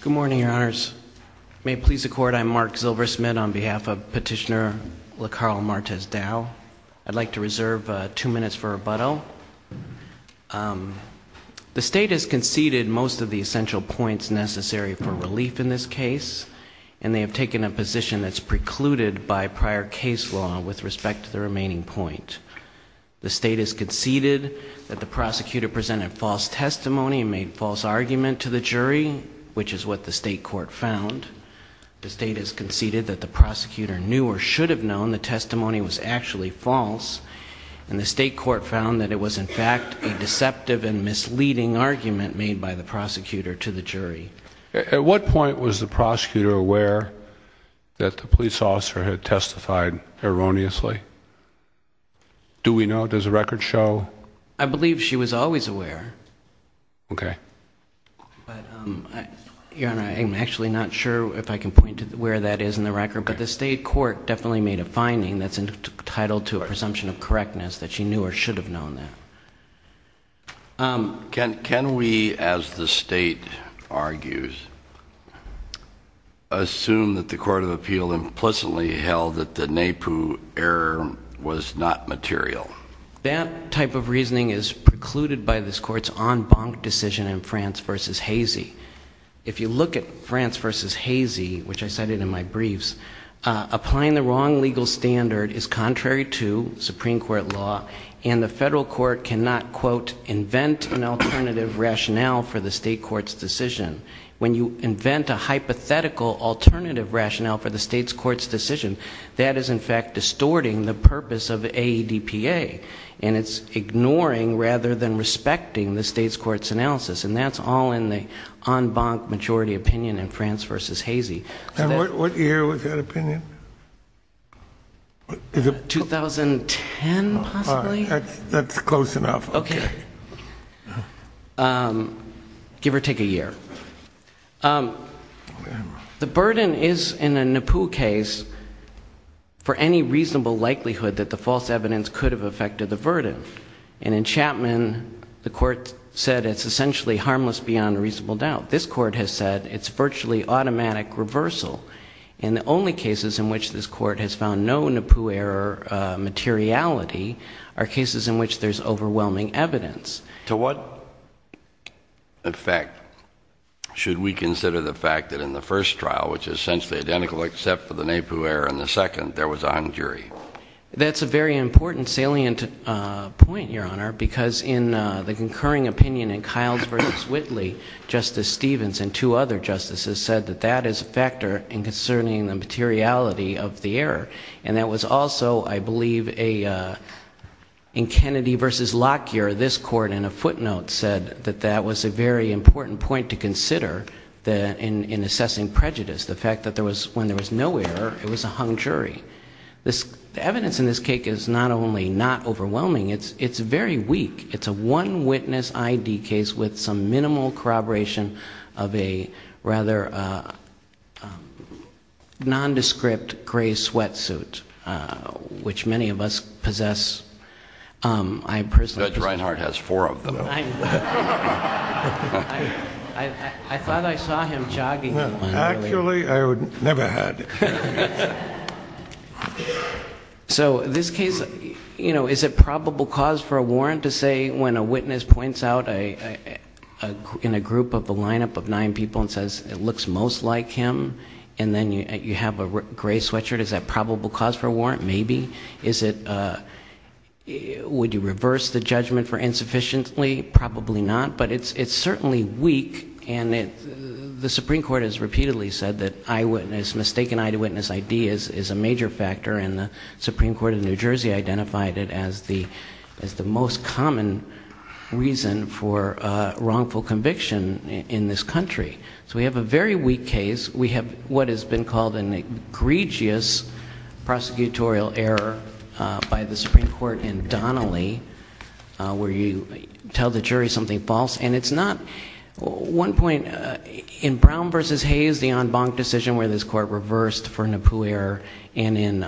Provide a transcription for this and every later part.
Good morning, Your Honors. May it please the Court, I'm Mark Zilversmith on behalf of Petitioner La Carl Martez Dow. I'd like to reserve two minutes for rebuttal. The State has conceded most of the essential points necessary for relief in this case, and they have taken a position that's precluded by prior case law with respect to the remaining point. The State has conceded that the prosecutor presented false testimony and made false argument to the jury, which is what the State Court found. The State has conceded that the prosecutor knew or should have known the testimony was actually false, and the State Court found that it was in fact a deceptive and misleading argument made by the prosecutor to the jury. At what point was the prosecutor aware that the police officer had testified erroneously? Do we know? Does the record show? I believe she was always aware. Okay. Your Honor, I'm actually not sure if I can point to where that is in the record, but the State Court definitely made a finding that's entitled to a presumption of correctness that she knew or should have known that. Can we, as the State argues, assume that the Court of Appeal implicitly held that the NAPU error was not material? That type of reasoning is precluded by this Court's en banc decision in France v. Hazy. If you look at France v. Hazy, which I cited in my briefs, applying the wrong legal standard is contrary to Supreme Court law, and the federal court cannot, quote, invent an alternative rationale for the State Court's decision. When you invent a hypothetical alternative rationale for the State's Court's decision, that is, in fact, distorting the purpose of AEDPA, and it's ignoring rather than respecting the State's Court's analysis, and that's all in the en banc majority opinion in France v. Hazy. And what year was that opinion? 2010, possibly? That's close enough. Okay. Give or take a year. The burden is, in a NAPU case, for any reasonable likelihood that the false evidence could have affected the burden. And in Chapman, the Court said it's essentially harmless beyond a reasonable doubt. This Court has said it's virtually automatic reversal, and the only cases in which this Court has found no NAPU error materiality are cases in which there's overwhelming evidence. To what effect should we consider the fact that in the first trial, which is essentially identical except for the NAPU error in the second, there was a hung jury? That's a very important salient point, Your Honor, because in the concurring opinion in Kiles v. Whitley, Justice Stevens and two other justices said that that is a factor in concerning the materiality of the error. And that was also, I believe, in Kennedy v. Lockyer, this Court in a footnote said that that was a very important point to consider in assessing prejudice, the fact that when there was no error, it was a hung jury. The evidence in this case is not only not overwhelming, it's very weak. It's a one-witness I.D. case with some minimal corroboration of a rather nondescript gray sweatsuit, which many of us possess. Judge Reinhardt has four of them. I thought I saw him jogging. Actually, I never had. So this case, you know, is it probable cause for a warrant to say when a witness points out in a group of a lineup of nine people and says it looks most like him and then you have a gray sweatshirt, is that probable cause for a warrant? Maybe. Is it would you reverse the judgment for insufficiently? Probably not. But it's certainly weak. And the Supreme Court has repeatedly said that mistaken eyewitness I.D. is a major factor, and the Supreme Court of New Jersey identified it as the most common reason for wrongful conviction in this country. So we have a very weak case. We have what has been called an egregious prosecutorial error by the Supreme Court in Donnelly, where you tell the jury something false. And it's not one point. In Brown v. Hayes, the en banc decision where this court reversed for Napier, and in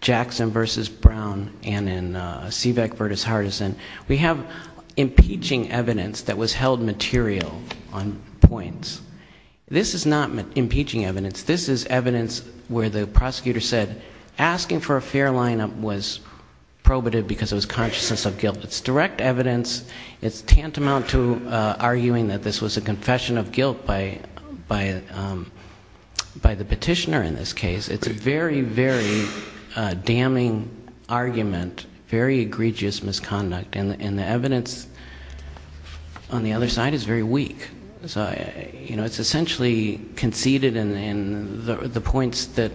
Jackson v. Brown and in Seebeck v. Hardison, we have impeaching evidence that was held material on points. This is not impeaching evidence. This is evidence where the prosecutor said asking for a fair lineup was probative because it was consciousness of guilt. It's direct evidence. It's tantamount to arguing that this was a confession of guilt by the petitioner in this case. It's a very, very damning argument, very egregious misconduct. And the evidence on the other side is very weak. So it's essentially conceded, and the points that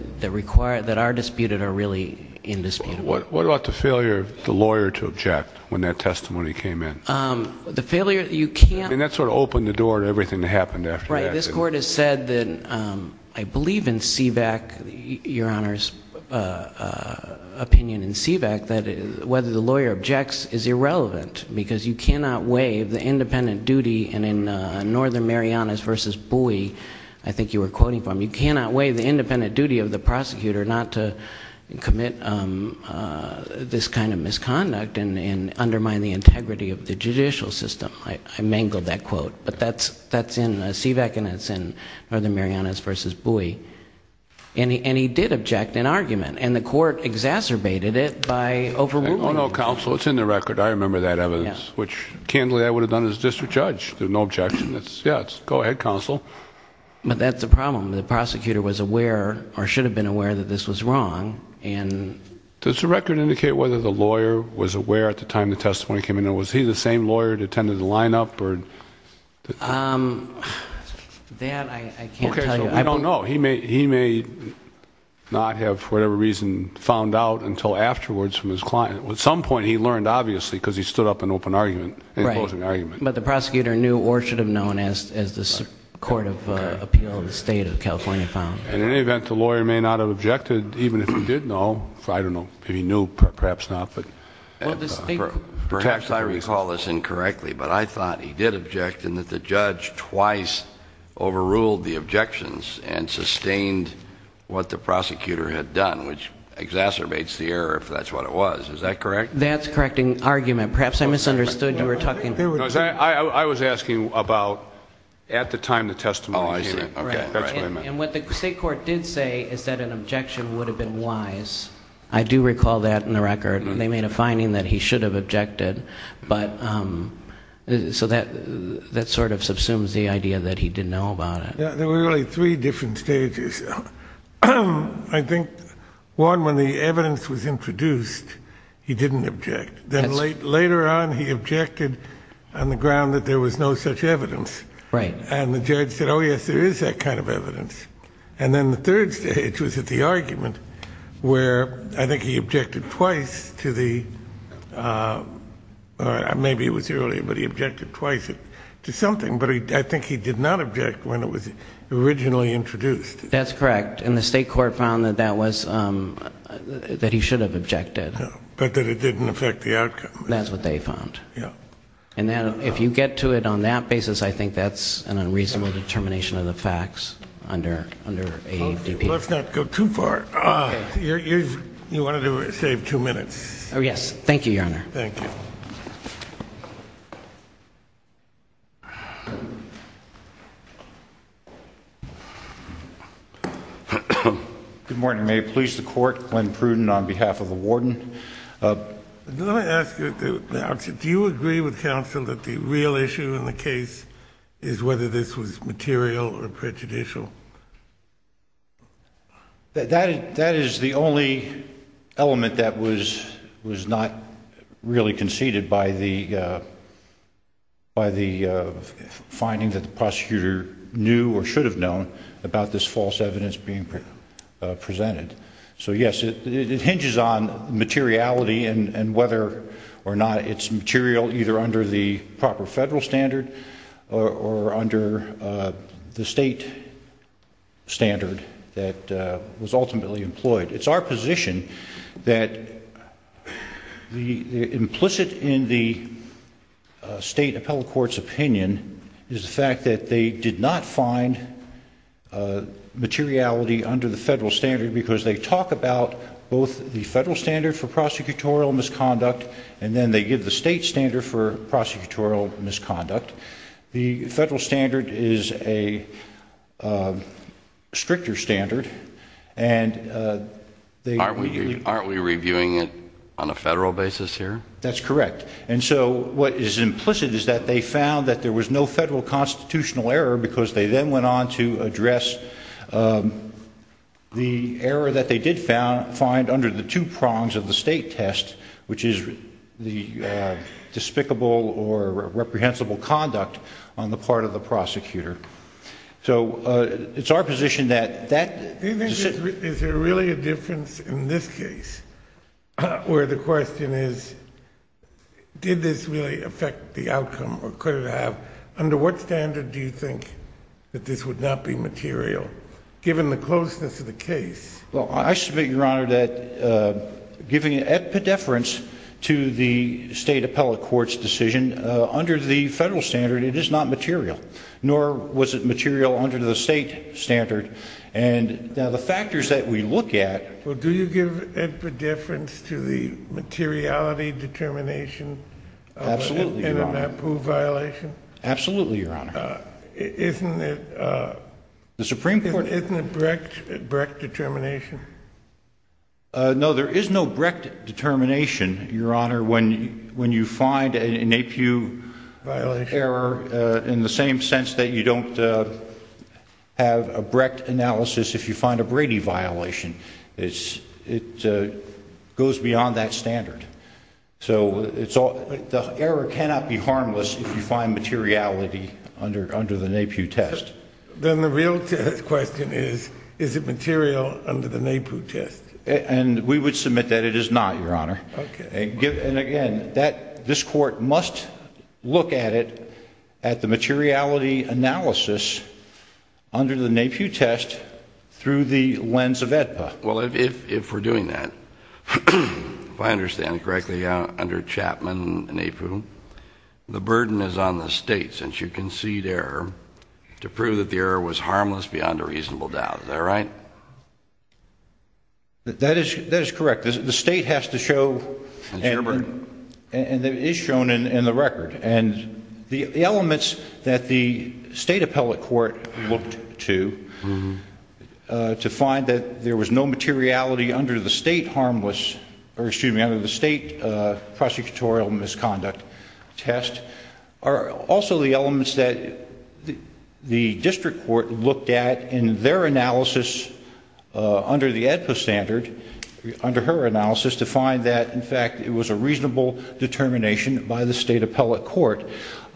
are disputed are really indisputable. But what about the failure of the lawyer to object when that testimony came in? The failure, you can't And that sort of opened the door to everything that happened after that. Right. This court has said that I believe in Seebeck, Your Honor's opinion in Seebeck, that whether the lawyer objects is irrelevant because you cannot waive the independent duty, and in Northern Marianas v. Bowie, I think you were quoting from, you cannot waive the independent duty of the prosecutor not to commit this kind of misconduct and undermine the integrity of the judicial system. I mangled that quote. But that's in Seebeck, and it's in Northern Marianas v. Bowie. And he did object in argument, and the court exacerbated it by overruling it. Oh, no, counsel, it's in the record. I remember that evidence, which, candidly, I would have done as district judge. There's no objection. Yeah, go ahead, counsel. But that's the problem. The prosecutor was aware, or should have been aware, that this was wrong. Does the record indicate whether the lawyer was aware at the time the testimony came in, or was he the same lawyer that attended the lineup? That I can't tell you. Okay, so we don't know. He may not have, for whatever reason, found out until afterwards from his client. At some point he learned, obviously, because he stood up in open argument. Right. But the prosecutor knew, or should have known, as the Court of Appeal of the State of California found. In any event, the lawyer may not have objected, even if he did know. I don't know. If he knew, perhaps not. Perhaps I recall this incorrectly, but I thought he did object in that the judge twice overruled the objections and sustained what the prosecutor had done, which exacerbates the error, if that's what it was. Is that correct? That's correcting argument. Perhaps I misunderstood. You were talking. I was asking about at the time the testimony came in. Oh, I see. That's what I meant. And what the state court did say is that an objection would have been wise. I do recall that in the record. They made a finding that he should have objected, so that sort of subsumes the idea that he didn't know about it. There were really three different stages. I think, one, when the evidence was introduced, he didn't object. Then later on, he objected on the ground that there was no such evidence. Right. And the judge said, oh, yes, there is that kind of evidence. And then the third stage was at the argument where I think he objected twice to the or maybe it was earlier, but he objected twice to something, but I think he did not object when it was originally introduced. That's correct. And the state court found that he should have objected. But that it didn't affect the outcome. That's what they found. Yeah. And if you get to it on that basis, I think that's an unreasonable determination of the facts under ADP. Let's not go too far. You wanted to save two minutes. Oh, yes. Thank you, Your Honor. Thank you. Good morning. May it please the court. Glenn Pruden on behalf of the warden. Let me ask you, do you agree with counsel that the real issue in the case is whether this was material or prejudicial? That is the only element that was not really conceded by the finding that the prosecutor knew or should have known about this false evidence being presented. So, yes, it hinges on materiality and whether or not it's material either under the proper federal standard or under the state standard that was ultimately employed. It's our position that implicit in the state appellate court's opinion is the fact that they did not find materiality under the federal standard because they talk about both the federal standard for prosecutorial misconduct and then they give the state standard for prosecutorial misconduct. The federal standard is a stricter standard. Aren't we reviewing it on a federal basis here? That's correct. And so what is implicit is that they found that there was no federal constitutional error because they then went on to address the error that they did find under the two prongs of the state test, which is the despicable or reprehensible conduct on the part of the prosecutor. Is there really a difference in this case where the question is did this really affect the outcome or could it have? Under what standard do you think that this would not be material given the closeness of the case? Well, I submit, Your Honor, that giving it at pedeference to the state appellate court's decision under the federal standard, it is not material, nor was it material under the state standard. And now the factors that we look at. Well, do you give it pedeference to the materiality determination in a NAPU violation? Absolutely, Your Honor. Absolutely, Your Honor. Isn't it Brecht determination? No, there is no Brecht determination, Your Honor, when you find a NAPU error in the same sense that you don't have a Brecht analysis if you find a Brady violation. It goes beyond that standard. So the error cannot be harmless if you find materiality under the NAPU test. Then the real question is, is it material under the NAPU test? And we would submit that it is not, Your Honor. Okay. And again, this Court must look at it at the materiality analysis under the NAPU test through the lens of AEDPA. Well, if we're doing that, if I understand it correctly, under Chapman NAPU, the burden is on the state since you concede error to prove that the error was harmless beyond a reasonable doubt. Is that right? That is correct. The state has to show and it is shown in the record. And the elements that the state appellate court looked to to find that there was no materiality under the state harmless or excuse me, under the state prosecutorial misconduct test are also the elements that the district court looked at in their analysis under the AEDPA standard, under her analysis, to find that, in fact, it was a reasonable determination by the state appellate court.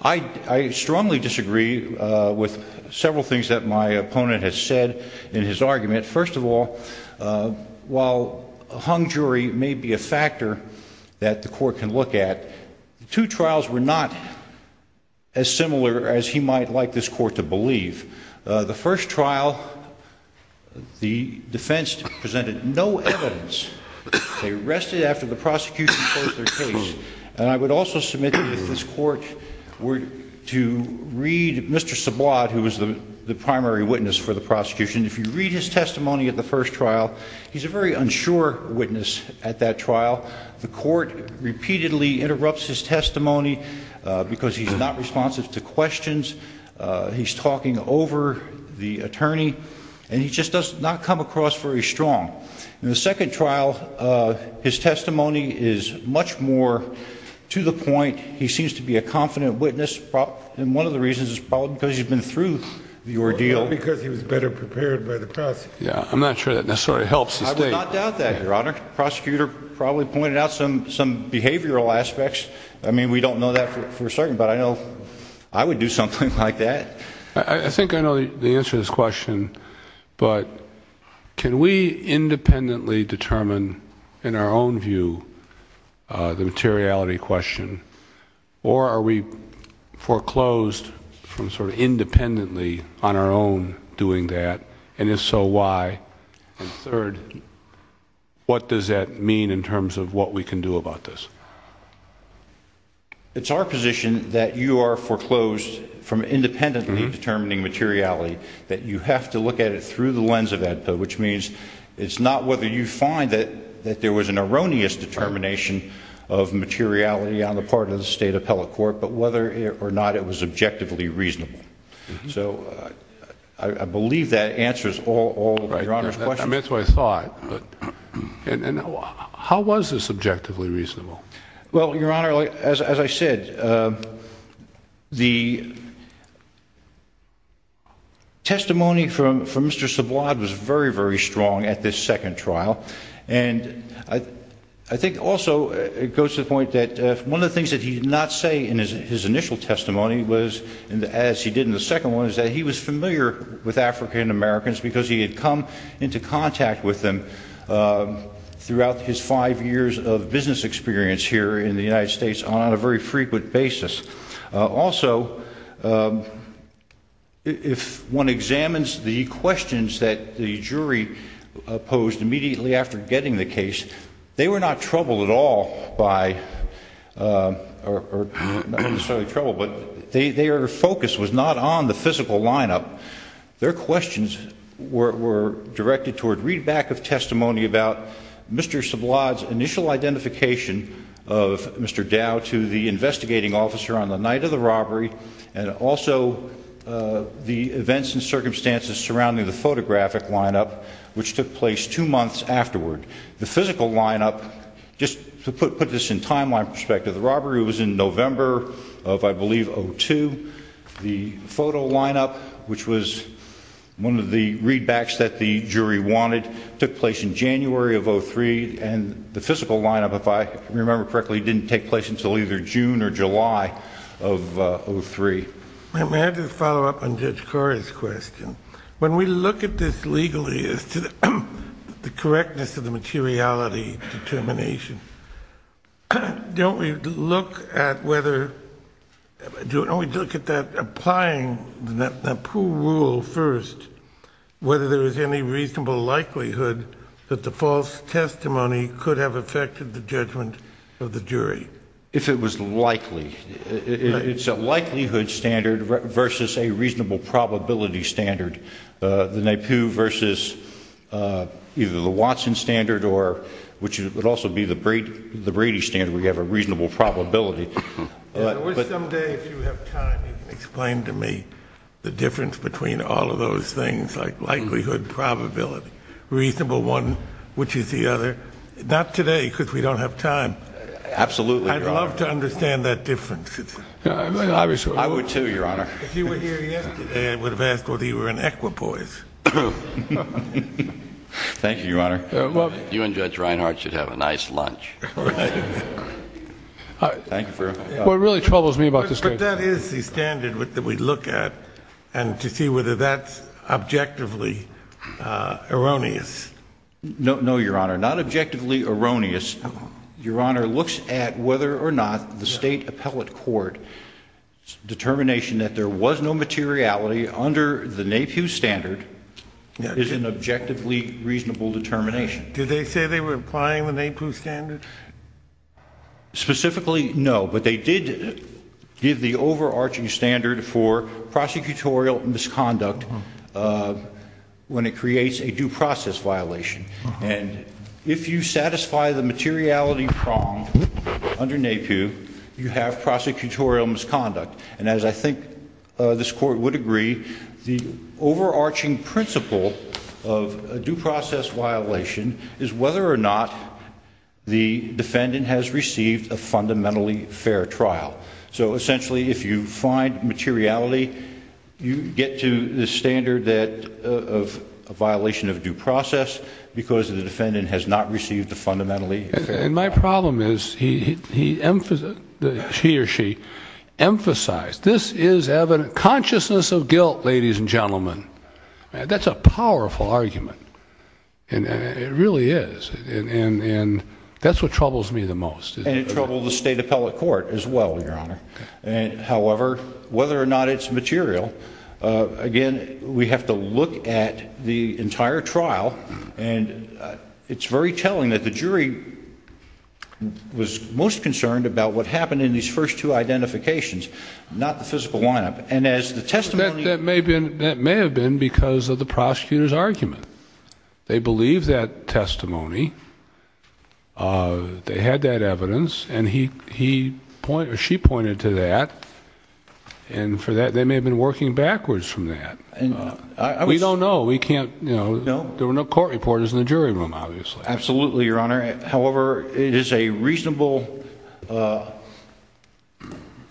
I strongly disagree with several things that my opponent has said in his argument. First of all, while a hung jury may be a factor that the court can look at, two trials were not as similar as he might like this court to believe. The first trial, the defense presented no evidence. They rested after the prosecution closed their case. And I would also submit that if this court were to read Mr. Subod, who was the primary witness for the prosecution, if you read his testimony at the first trial, he's a very unsure witness at that trial. The court repeatedly interrupts his testimony because he's not responsive to questions. He's talking over the attorney. And he just does not come across very strong. In the second trial, his testimony is much more to the point. He seems to be a confident witness. And one of the reasons is probably because he's been through the ordeal because he was better prepared by the press. Yeah, I'm not sure that necessarily helps. I would not doubt that, Your Honor. Prosecutor probably pointed out some some behavioral aspects. I mean, we don't know that for certain, but I know I would do something like that. I think I know the answer to this question. But can we independently determine in our own view the materiality question? Or are we foreclosed from sort of independently on our own doing that? And if so, why? And third, what does that mean in terms of what we can do about this? It's our position that you are foreclosed from independently determining materiality, that you have to look at it through the lens of AEDPA, which means it's not whether you find that there was an erroneous determination of materiality on the part of the State Appellate Court, but whether or not it was objectively reasonable. So I believe that answers all of Your Honor's questions. That's what I thought. And how was this objectively reasonable? Well, Your Honor, as I said, the testimony from Mr. Sublod was very, very strong at this second trial. And I think also it goes to the point that one of the things that he did not say in his initial testimony, as he did in the second one, is that he was familiar with African Americans because he had come into contact with them throughout his five years of business experience here in the United States on a very frequent basis. Also, if one examines the questions that the jury posed immediately after getting the case, they were not troubled at all by, or not necessarily troubled, but their focus was not on the physical lineup. Their questions were directed toward readback of testimony about Mr. Sublod's initial identification of Mr. Dow to the investigating officer on the night of the robbery, and also the events and circumstances surrounding the photographic lineup, which took place two months afterward. The physical lineup, just to put this in timeline perspective, the robbery was in November of, I believe, 2002. The photo lineup, which was one of the readbacks that the jury wanted, took place in January of 2003. And the physical lineup, if I remember correctly, didn't take place until either June or July of 2003. May I just follow up on Judge Corey's question? When we look at this legally as to the correctness of the materiality determination, don't we look at whether, don't we look at that applying the NAPU rule first, whether there is any reasonable likelihood that the false testimony could have affected the judgment of the jury? If it was likely. It's a likelihood standard versus a reasonable probability standard. The NAPU versus either the Watson standard, which would also be the Brady standard, where you have a reasonable probability. I wish someday, if you have time, you can explain to me the difference between all of those things, like likelihood, probability, reasonable one, which is the other. Not today, because we don't have time. Absolutely, Your Honor. I'd love to understand that difference. I would, too, Your Honor. If you were here yesterday, I would have asked whether you were an equipoise. Thank you, Your Honor. You and Judge Reinhart should have a nice lunch. Well, it really troubles me about this case. But that is the standard that we look at, and to see whether that's objectively erroneous. No, Your Honor. Not objectively erroneous. Your Honor looks at whether or not the state appellate court's determination that there was no materiality under the NAPU standard is an objectively reasonable determination. Did they say they were applying the NAPU standard? Specifically, no. But they did give the overarching standard for prosecutorial misconduct when it creates a due process violation. And if you satisfy the materiality prong under NAPU, you have prosecutorial misconduct. And as I think this Court would agree, the overarching principle of a due process violation is whether or not the defendant has received a fundamentally fair trial. So essentially, if you find materiality, you get to the standard of a violation of due process because the defendant has not received a fundamentally fair trial. And my problem is, he or she emphasized, this is evident consciousness of guilt, ladies and gentlemen. That's a powerful argument. It really is. And that's what troubles me the most. And it troubles the state appellate court as well, Your Honor. However, whether or not it's material, again, we have to look at the entire trial. And it's very telling that the jury was most concerned about what happened in these first two identifications, not the physical lineup. And as the testimony— That may have been because of the prosecutor's argument. They had that evidence. And he or she pointed to that. And for that, they may have been working backwards from that. We don't know. We can't— There were no court reporters in the jury room, obviously. Absolutely, Your Honor. However, it is a reasonable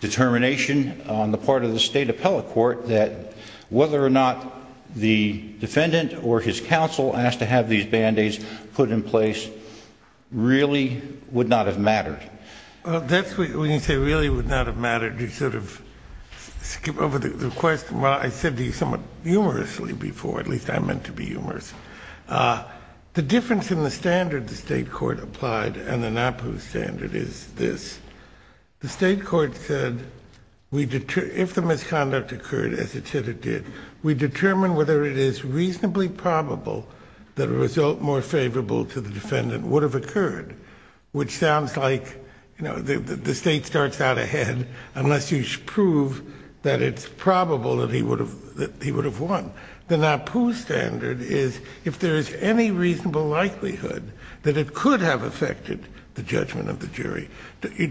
determination on the part of the state appellate court that whether or not the defendant or his counsel asked to have these Band-Aids put in place really would not have mattered. That's what you say, really would not have mattered. You sort of skip over the question. Well, I said these somewhat humorously before. At least, I meant to be humorous. The difference in the standard the state court applied and the NAPU standard is this. The state court said if the misconduct occurred, as it said it did, we determine whether it is reasonably probable that a result more favorable to the defendant would have occurred, which sounds like the state starts out ahead unless you prove that it's probable that he would have won. The NAPU standard is if there is any reasonable likelihood that it could have affected the judgment of the jury.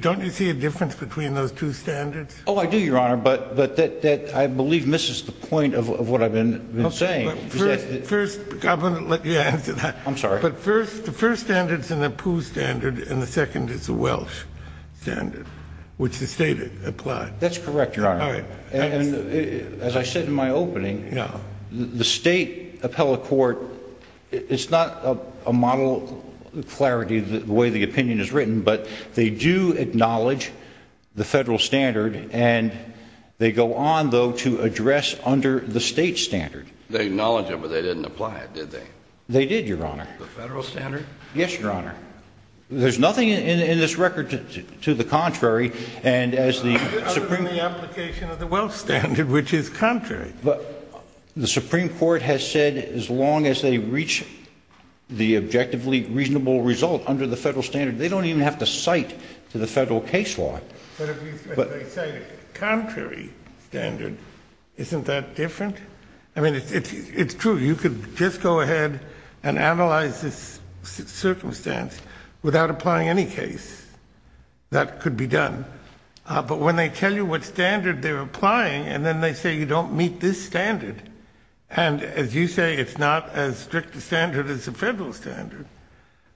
Don't you see a difference between those two standards? Oh, I do, Your Honor, but that, I believe, misses the point of what I've been saying. First, I'm going to let you answer that. I'm sorry. But the first standard is the NAPU standard, and the second is the Welsh standard, which the state applied. That's correct, Your Honor. All right. And as I said in my opening, the state appellate court, it's not a model clarity the way the opinion is written, but they do acknowledge the federal standard, and they go on, though, to address under the state standard. They acknowledge it, but they didn't apply it, did they? They did, Your Honor. The federal standard? Yes, Your Honor. There's nothing in this record to the contrary. Other than the application of the Welsh standard, which is contrary. The Supreme Court has said as long as they reach the objectively reasonable result under the federal standard, they don't even have to cite to the federal case law. But if they cite a contrary standard, isn't that different? I mean, it's true. You could just go ahead and analyze this circumstance without applying any case. That could be done. But when they tell you what standard they're applying, and then they say you don't meet this standard, and as you say, it's not as strict a standard as the federal standard,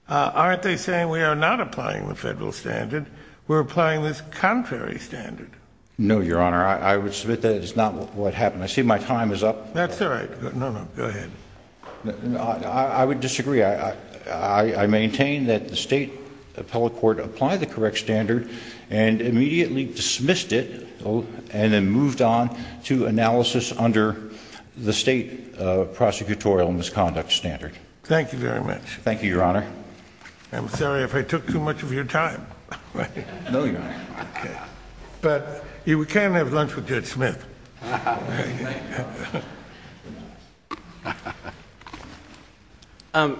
aren't they saying we are not applying the federal standard? We're applying this contrary standard. No, Your Honor. I would submit that is not what happened. I see my time is up. That's all right. No, no. Go ahead. I would disagree. I maintain that the state appellate court applied the correct standard and immediately dismissed it and then moved on to analysis under the state prosecutorial misconduct standard. Thank you very much. Thank you, Your Honor. I'm sorry if I took too much of your time. No, Your Honor. But you can have lunch with Judge Smith.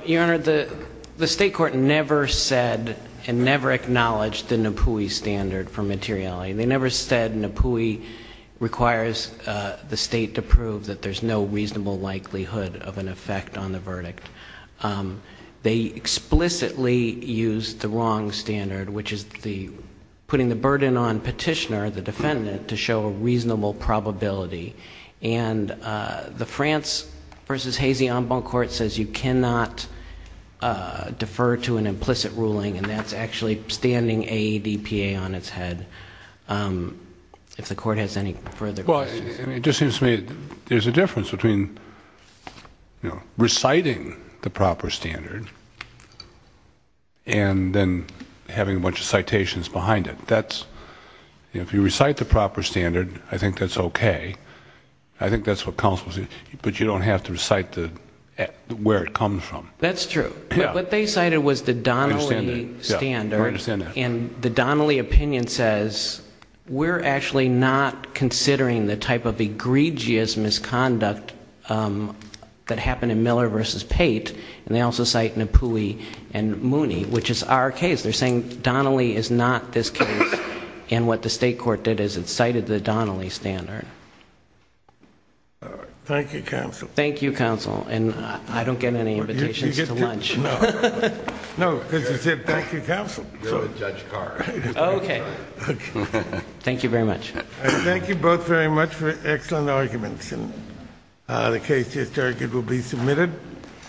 Your Honor, the state court never said and never acknowledged the NAPUI standard for materiality. They never said NAPUI requires the state to prove that there's no reasonable likelihood of an effect on the verdict. They explicitly used the wrong standard, which is putting the burden on petitioner, the defendant, to show a reasonable probability. And the France v. Hazy en banc court says you cannot defer to an implicit ruling, and that's actually standing AEDPA on its head. If the court has any further questions. Well, it just seems to me there's a difference between reciting the proper standard and then having a bunch of citations behind it. If you recite the proper standard, I think that's okay. I think that's what counsel says. But you don't have to recite where it comes from. That's true. What they cited was the Donnelly standard. I understand that. And the Donnelly opinion says we're actually not considering the type of egregious misconduct that happened in Miller v. Pate. And they also cite NAPUI and Mooney, which is our case. They're saying Donnelly is not this case. And what the state court did is it cited the Donnelly standard. Thank you, counsel. Thank you, counsel. And I don't get any invitations to lunch. No, because you said thank you, counsel. Oh, okay. Thank you very much. Thank you both very much for excellent arguments. And the case to be submitted.